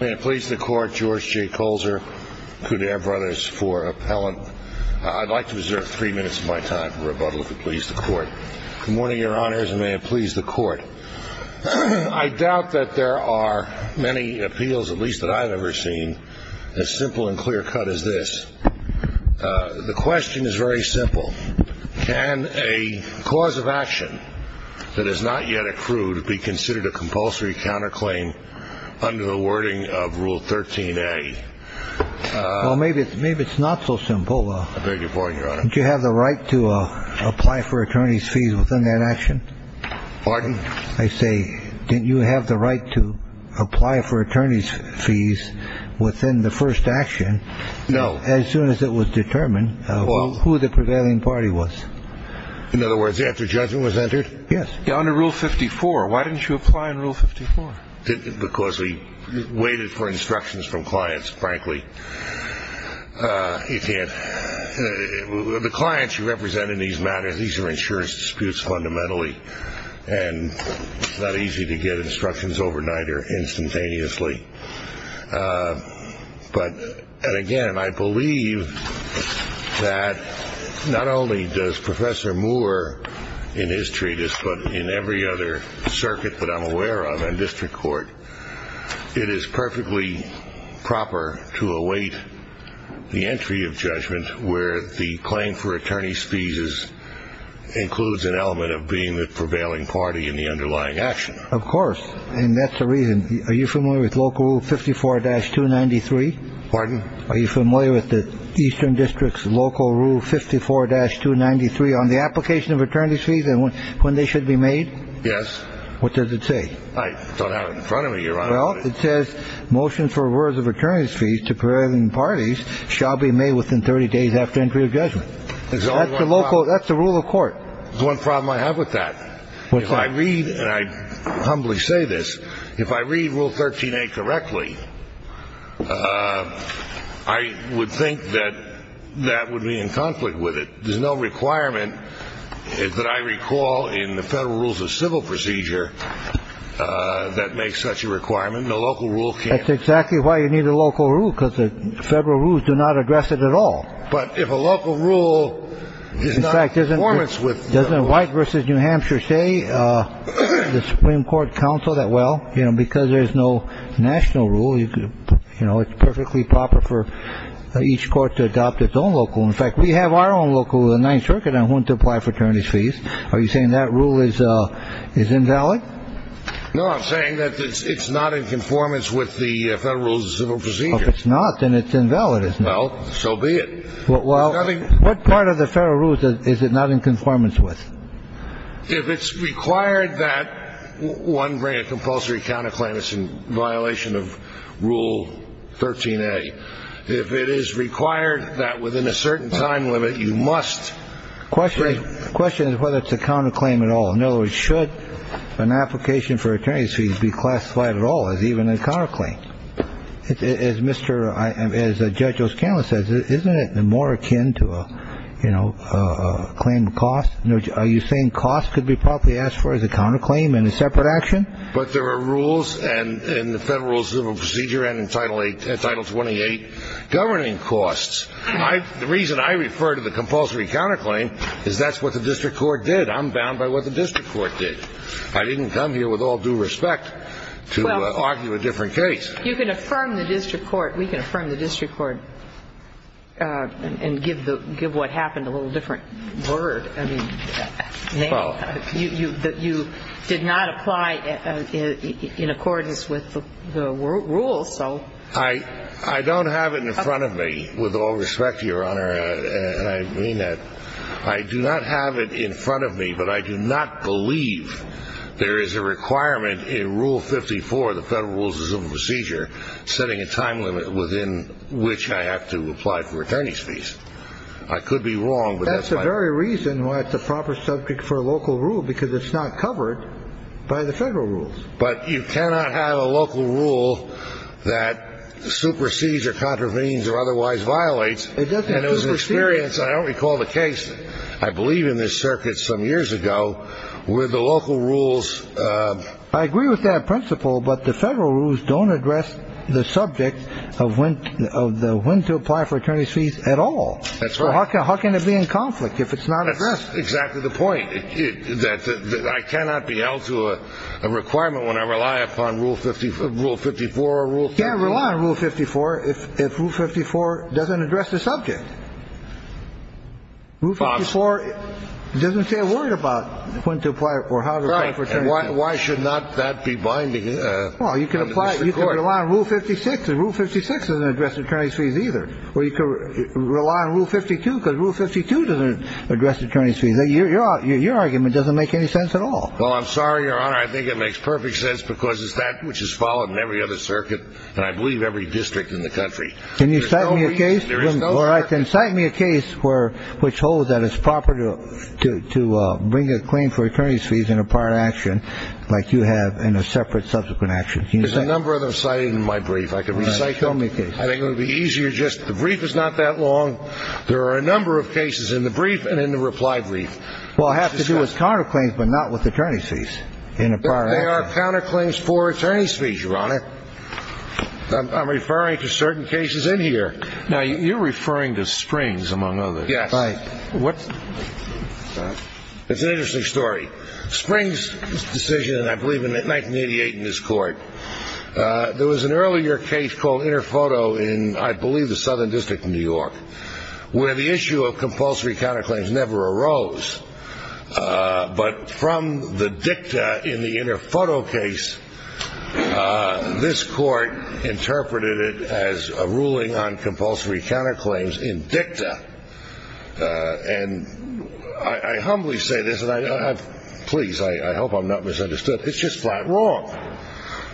May it please the Court, George J. Colzer, Cudaire Brothers for Appellant. I'd like to reserve three minutes of my time for rebuttal, if it please the Court. Good morning, Your Honors, and may it please the Court. I doubt that there are many appeals, at least that I've ever seen, as simple and clear-cut as this. The question is very simple. Can a cause of action that has not yet accrued be considered a compulsory counterclaim under the wording of Rule 13a? Well, maybe it's not so simple. I beg your pardon, Your Honor. Did you have the right to apply for attorney's fees within that action? Pardon? I say, did you have the right to apply for attorney's fees within the first action? No. As soon as it was determined who the prevailing party was. In other words, after judgment was entered? Yes. Under Rule 54. Why didn't you apply under Rule 54? Because we waited for instructions from clients, frankly. The clients you represent in these matters, these are insurance disputes fundamentally, and it's not easy to get instructions overnight or instantaneously. But again, I believe that not only does Professor Moore in his treatise, but in every other circuit that I'm aware of in district court, it is perfectly proper to await the entry of judgment where the claim for attorney's fees includes an element of being the prevailing party in the underlying action. Of course. And that's the reason. Are you familiar with Local Rule 54-293? Pardon? Are you familiar with the Eastern District's Local Rule 54-293 on the application of attorney's fees and when they should be made? Yes. What does it say? I don't have it in front of me, Your Honor. Well, it says, motion for rewards of attorney's fees to prevailing parties shall be made within 30 days after entry of judgment. That's the local, that's the rule of court. There's one problem I have with that. What's that? If I read, and I humbly say this, if I read Rule 13-A correctly, I would think that that would be in conflict with it. There's no requirement that I recall in the Federal Rules of Civil Procedure that makes such a requirement. No local rule can. That's exactly why you need a local rule, because the federal rules do not address it at all. But if a local rule is not in conformance with. Doesn't White v. New Hampshire say, the Supreme Court counsel, that, well, because there's no national rule, it's perfectly proper for each court to adopt its own local rule. In fact, we have our own local rule in the Ninth Circuit on whom to apply for attorney's fees. Are you saying that rule is invalid? No, I'm saying that it's not in conformance with the Federal Rules of Civil Procedure. If it's not, then it's invalid, isn't it? Well, so be it. What part of the Federal Rules is it not in conformance with? If it's required that one bring a compulsory counterclaim, it's in violation of Rule 13-A. If it is required that within a certain time limit, you must. The question is whether it's a counterclaim at all. In other words, should an application for attorney's fees be classified at all as even a counterclaim? As Judge O'Scanlan says, isn't it more akin to a claim to cost? Are you saying cost could be properly asked for as a counterclaim in a separate action? But there are rules in the Federal Rules of Civil Procedure and in Title 28 governing costs. The reason I refer to the compulsory counterclaim is that's what the district court did. I'm bound by what the district court did. I didn't come here with all due respect to argue a different case. You can affirm the district court. We can affirm the district court and give what happened a little different word. I mean, you did not apply in accordance with the rules, so. I don't have it in front of me, with all respect to Your Honor, and I mean that. I do not have it in front of me, but I do not believe there is a requirement in Rule 54 of the Federal Rules of Civil Procedure setting a time limit within which I have to apply for attorney's fees. I could be wrong, but that's my point. That's the very reason why it's a proper subject for a local rule, because it's not covered by the federal rules. But you cannot have a local rule that supersedes or contravenes or otherwise violates. It doesn't supersede. I don't recall the case, I believe in this circuit some years ago, where the local rules. I agree with that principle, but the federal rules don't address the subject of when to apply for attorney's fees at all. That's right. How can it be in conflict if it's not addressed? That's exactly the point, that I cannot be held to a requirement when I rely upon Rule 54 or Rule 54. You can't rely on Rule 54 if Rule 54 doesn't address the subject. Rule 54 doesn't say a word about when to apply or how to apply for attorney's fees. Right. And why should not that be binding? Well, you can rely on Rule 56, and Rule 56 doesn't address attorney's fees either. Or you can rely on Rule 52, because Rule 52 doesn't address attorney's fees. Your argument doesn't make any sense at all. Well, I'm sorry, Your Honor. I think it makes perfect sense because it's that which is followed in every other circuit, and I believe every district in the country. Can you cite me a case? There is no circuit. All right, then cite me a case which holds that it's proper to bring a claim for attorney's fees in a prior action like you have in a separate subsequent action. Can you cite me a case? There's a number of them cited in my brief. I can recite them. All right. Tell me a case. I think it would be easier just the brief is not that long. There are a number of cases in the brief and in the reply brief. Well, it has to do with counterclaims, but not with attorney's fees in a prior action. There are counterclaims for attorney's fees, Your Honor. I'm referring to certain cases in here. Now, you're referring to Springs, among others. Yes. It's an interesting story. Springs' decision, I believe in 1988 in his court, there was an earlier case called Interfoto in, I believe, the Southern District in New York, where the issue of compulsory counterclaims never arose. But from the dicta in the Interfoto case, this court interpreted it as a ruling on compulsory counterclaims in dicta. And I humbly say this, and please, I hope I'm not misunderstood. It's just flat wrong.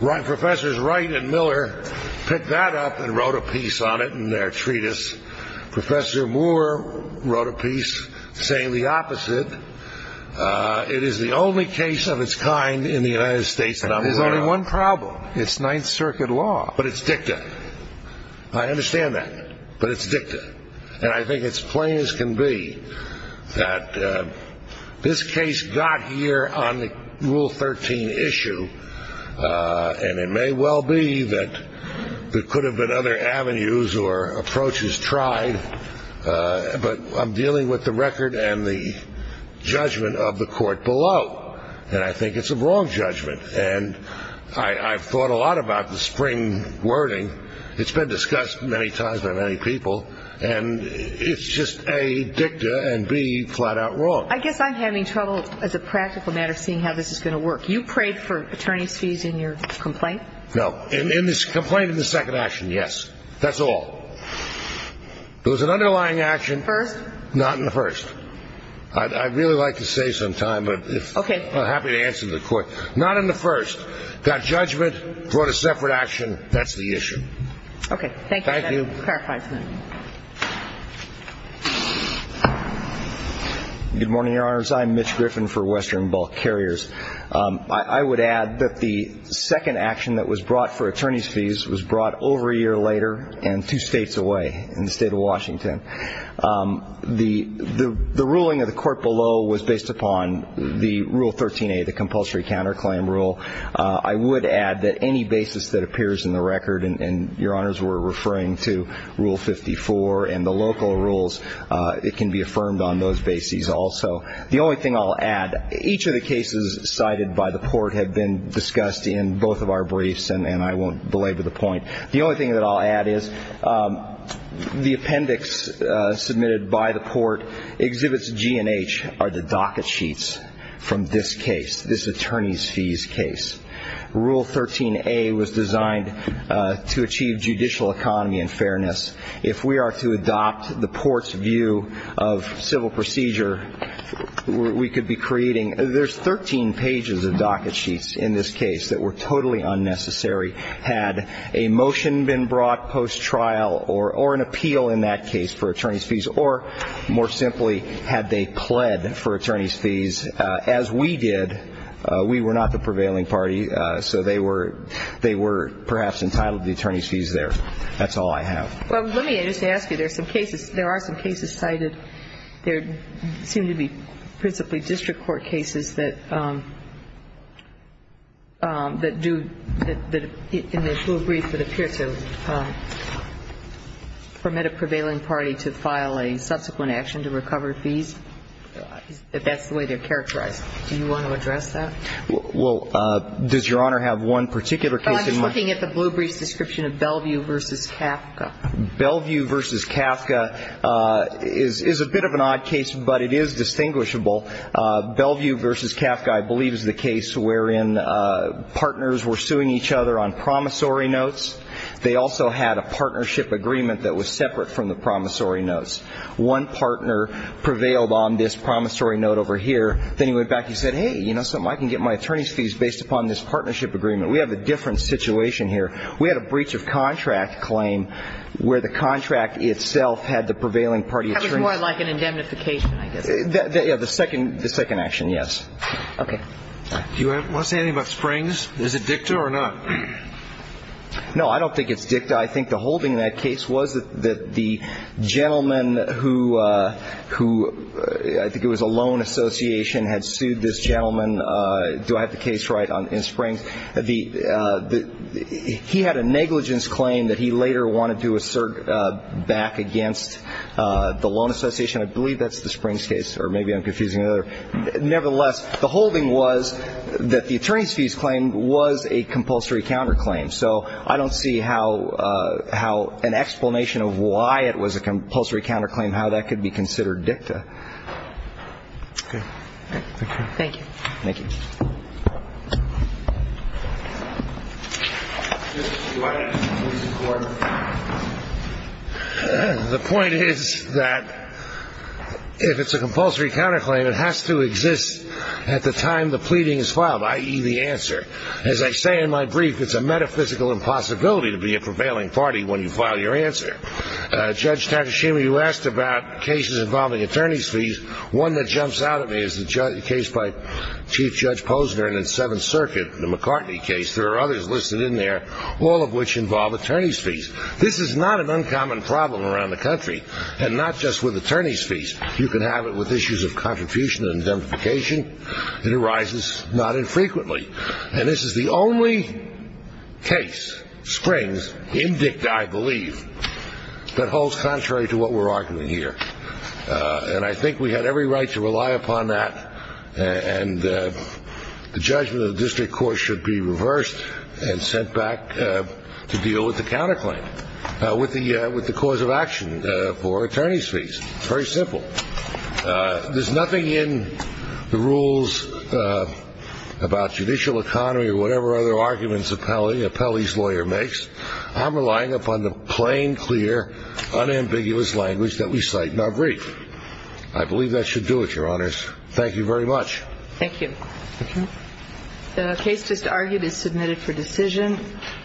Professors Wright and Miller picked that up and wrote a piece on it in their treatise. Professor Moore wrote a piece saying the opposite. It is the only case of its kind in the United States. And there's only one problem. It's Ninth Circuit law. But it's dicta. I understand that. But it's dicta. And I think it's plain as can be that this case got here on the Rule 13 issue. And it may well be that there could have been other avenues or approaches tried. But I'm dealing with the record and the judgment of the court below. And I think it's a wrong judgment. And I've thought a lot about the Spring wording. It's been discussed many times by many people. And it's just A, dicta, and B, flat-out wrong. I guess I'm having trouble as a practical matter seeing how this is going to work. You prayed for attorney's fees in your complaint? No. In this complaint in the second action, yes. That's all. There was an underlying action. First? Not in the first. I'd really like to save some time. Okay. But I'm happy to answer the court. Not in the first. Got judgment, brought a separate action. That's the issue. Okay. Thank you. That clarifies it. Good morning, Your Honors. I'm Mitch Griffin for Western Bulk Carriers. I would add that the second action that was brought for attorney's fees was brought over a year later and two states away in the State of Washington. The ruling of the court below was based upon the Rule 13a, the compulsory counterclaim rule. I would add that any basis that appears in the record, and Your Honors were referring to Rule 54 and the local rules, it can be affirmed on those bases also. The only thing I'll add, each of the cases cited by the court have been discussed in both of our briefs, and I won't belabor the point. The only thing that I'll add is the appendix submitted by the court exhibits G and H are the docket sheets from this case, this attorney's fees case. Rule 13a was designed to achieve judicial economy and fairness. If we are to adopt the court's view of civil procedure, we could be creating – there's 13 pages of docket sheets in this case that were totally unnecessary. Had a motion been brought post-trial or an appeal in that case for attorney's fees, or more simply, had they pled for attorney's fees, as we did, we were not the prevailing party, so they were perhaps entitled to the attorney's fees there. That's all I have. Well, let me just ask you. There are some cases cited. There seem to be principally district court cases that do – in the full brief that appear to permit a prevailing party to file a subsequent action to recover fees, if that's the way they're characterized. Do you want to address that? Well, does Your Honor have one particular case in mind? I'm just looking at the blue brief's description of Bellevue v. Kafka. Bellevue v. Kafka is a bit of an odd case, but it is distinguishable. Bellevue v. Kafka, I believe, is the case wherein partners were suing each other on promissory notes. They also had a partnership agreement that was separate from the promissory notes. One partner prevailed on this promissory note over here. Then he went back and he said, hey, you know something, I can get my attorney's fees based upon this partnership agreement. We have a different situation here. We had a breach of contract claim where the contract itself had the prevailing party attorney. That was more like an indemnification, I guess. Yeah, the second action, yes. Okay. Do you want to say anything about Springs? Is it dicta or not? No, I don't think it's dicta. I think the whole thing in that case was that the gentleman who – I think it was a loan association had sued this gentleman. Do I have the case right in Springs? He had a negligence claim that he later wanted to assert back against the loan association. I believe that's the Springs case, or maybe I'm confusing it. Nevertheless, the whole thing was that the attorney's fees claim was a compulsory counterclaim. So I don't see how an explanation of why it was a compulsory counterclaim, how that could be considered dicta. Okay. Okay. Thank you. Thank you. Justice, do I have a conclusion for him? The point is that if it's a compulsory counterclaim, it has to exist at the time the pleading is filed, i.e., the answer. As I say in my brief, it's a metaphysical impossibility to be a prevailing party when you file your answer. Judge Takashima, you asked about cases involving attorney's fees. One that jumps out at me is the case by Chief Judge Posner in the Seventh Circuit, the McCartney case. There are others listed in there, all of which involve attorney's fees. This is not an uncommon problem around the country, and not just with attorney's fees. You can have it with issues of contribution and demonetization. It arises not infrequently. And this is the only case, Springs, in dicta, I believe, that holds contrary to what we're arguing here. And I think we have every right to rely upon that, and the judgment of the district court should be reversed and sent back to deal with the counterclaim, with the cause of action for attorney's fees. It's very simple. There's nothing in the rules about judicial economy or whatever other arguments a Pelley's lawyer makes. I'm relying upon the plain, clear, unambiguous language that we cite in our brief. I believe that should do it, Your Honors. Thank you very much. Thank you. The case just argued is submitted for decision.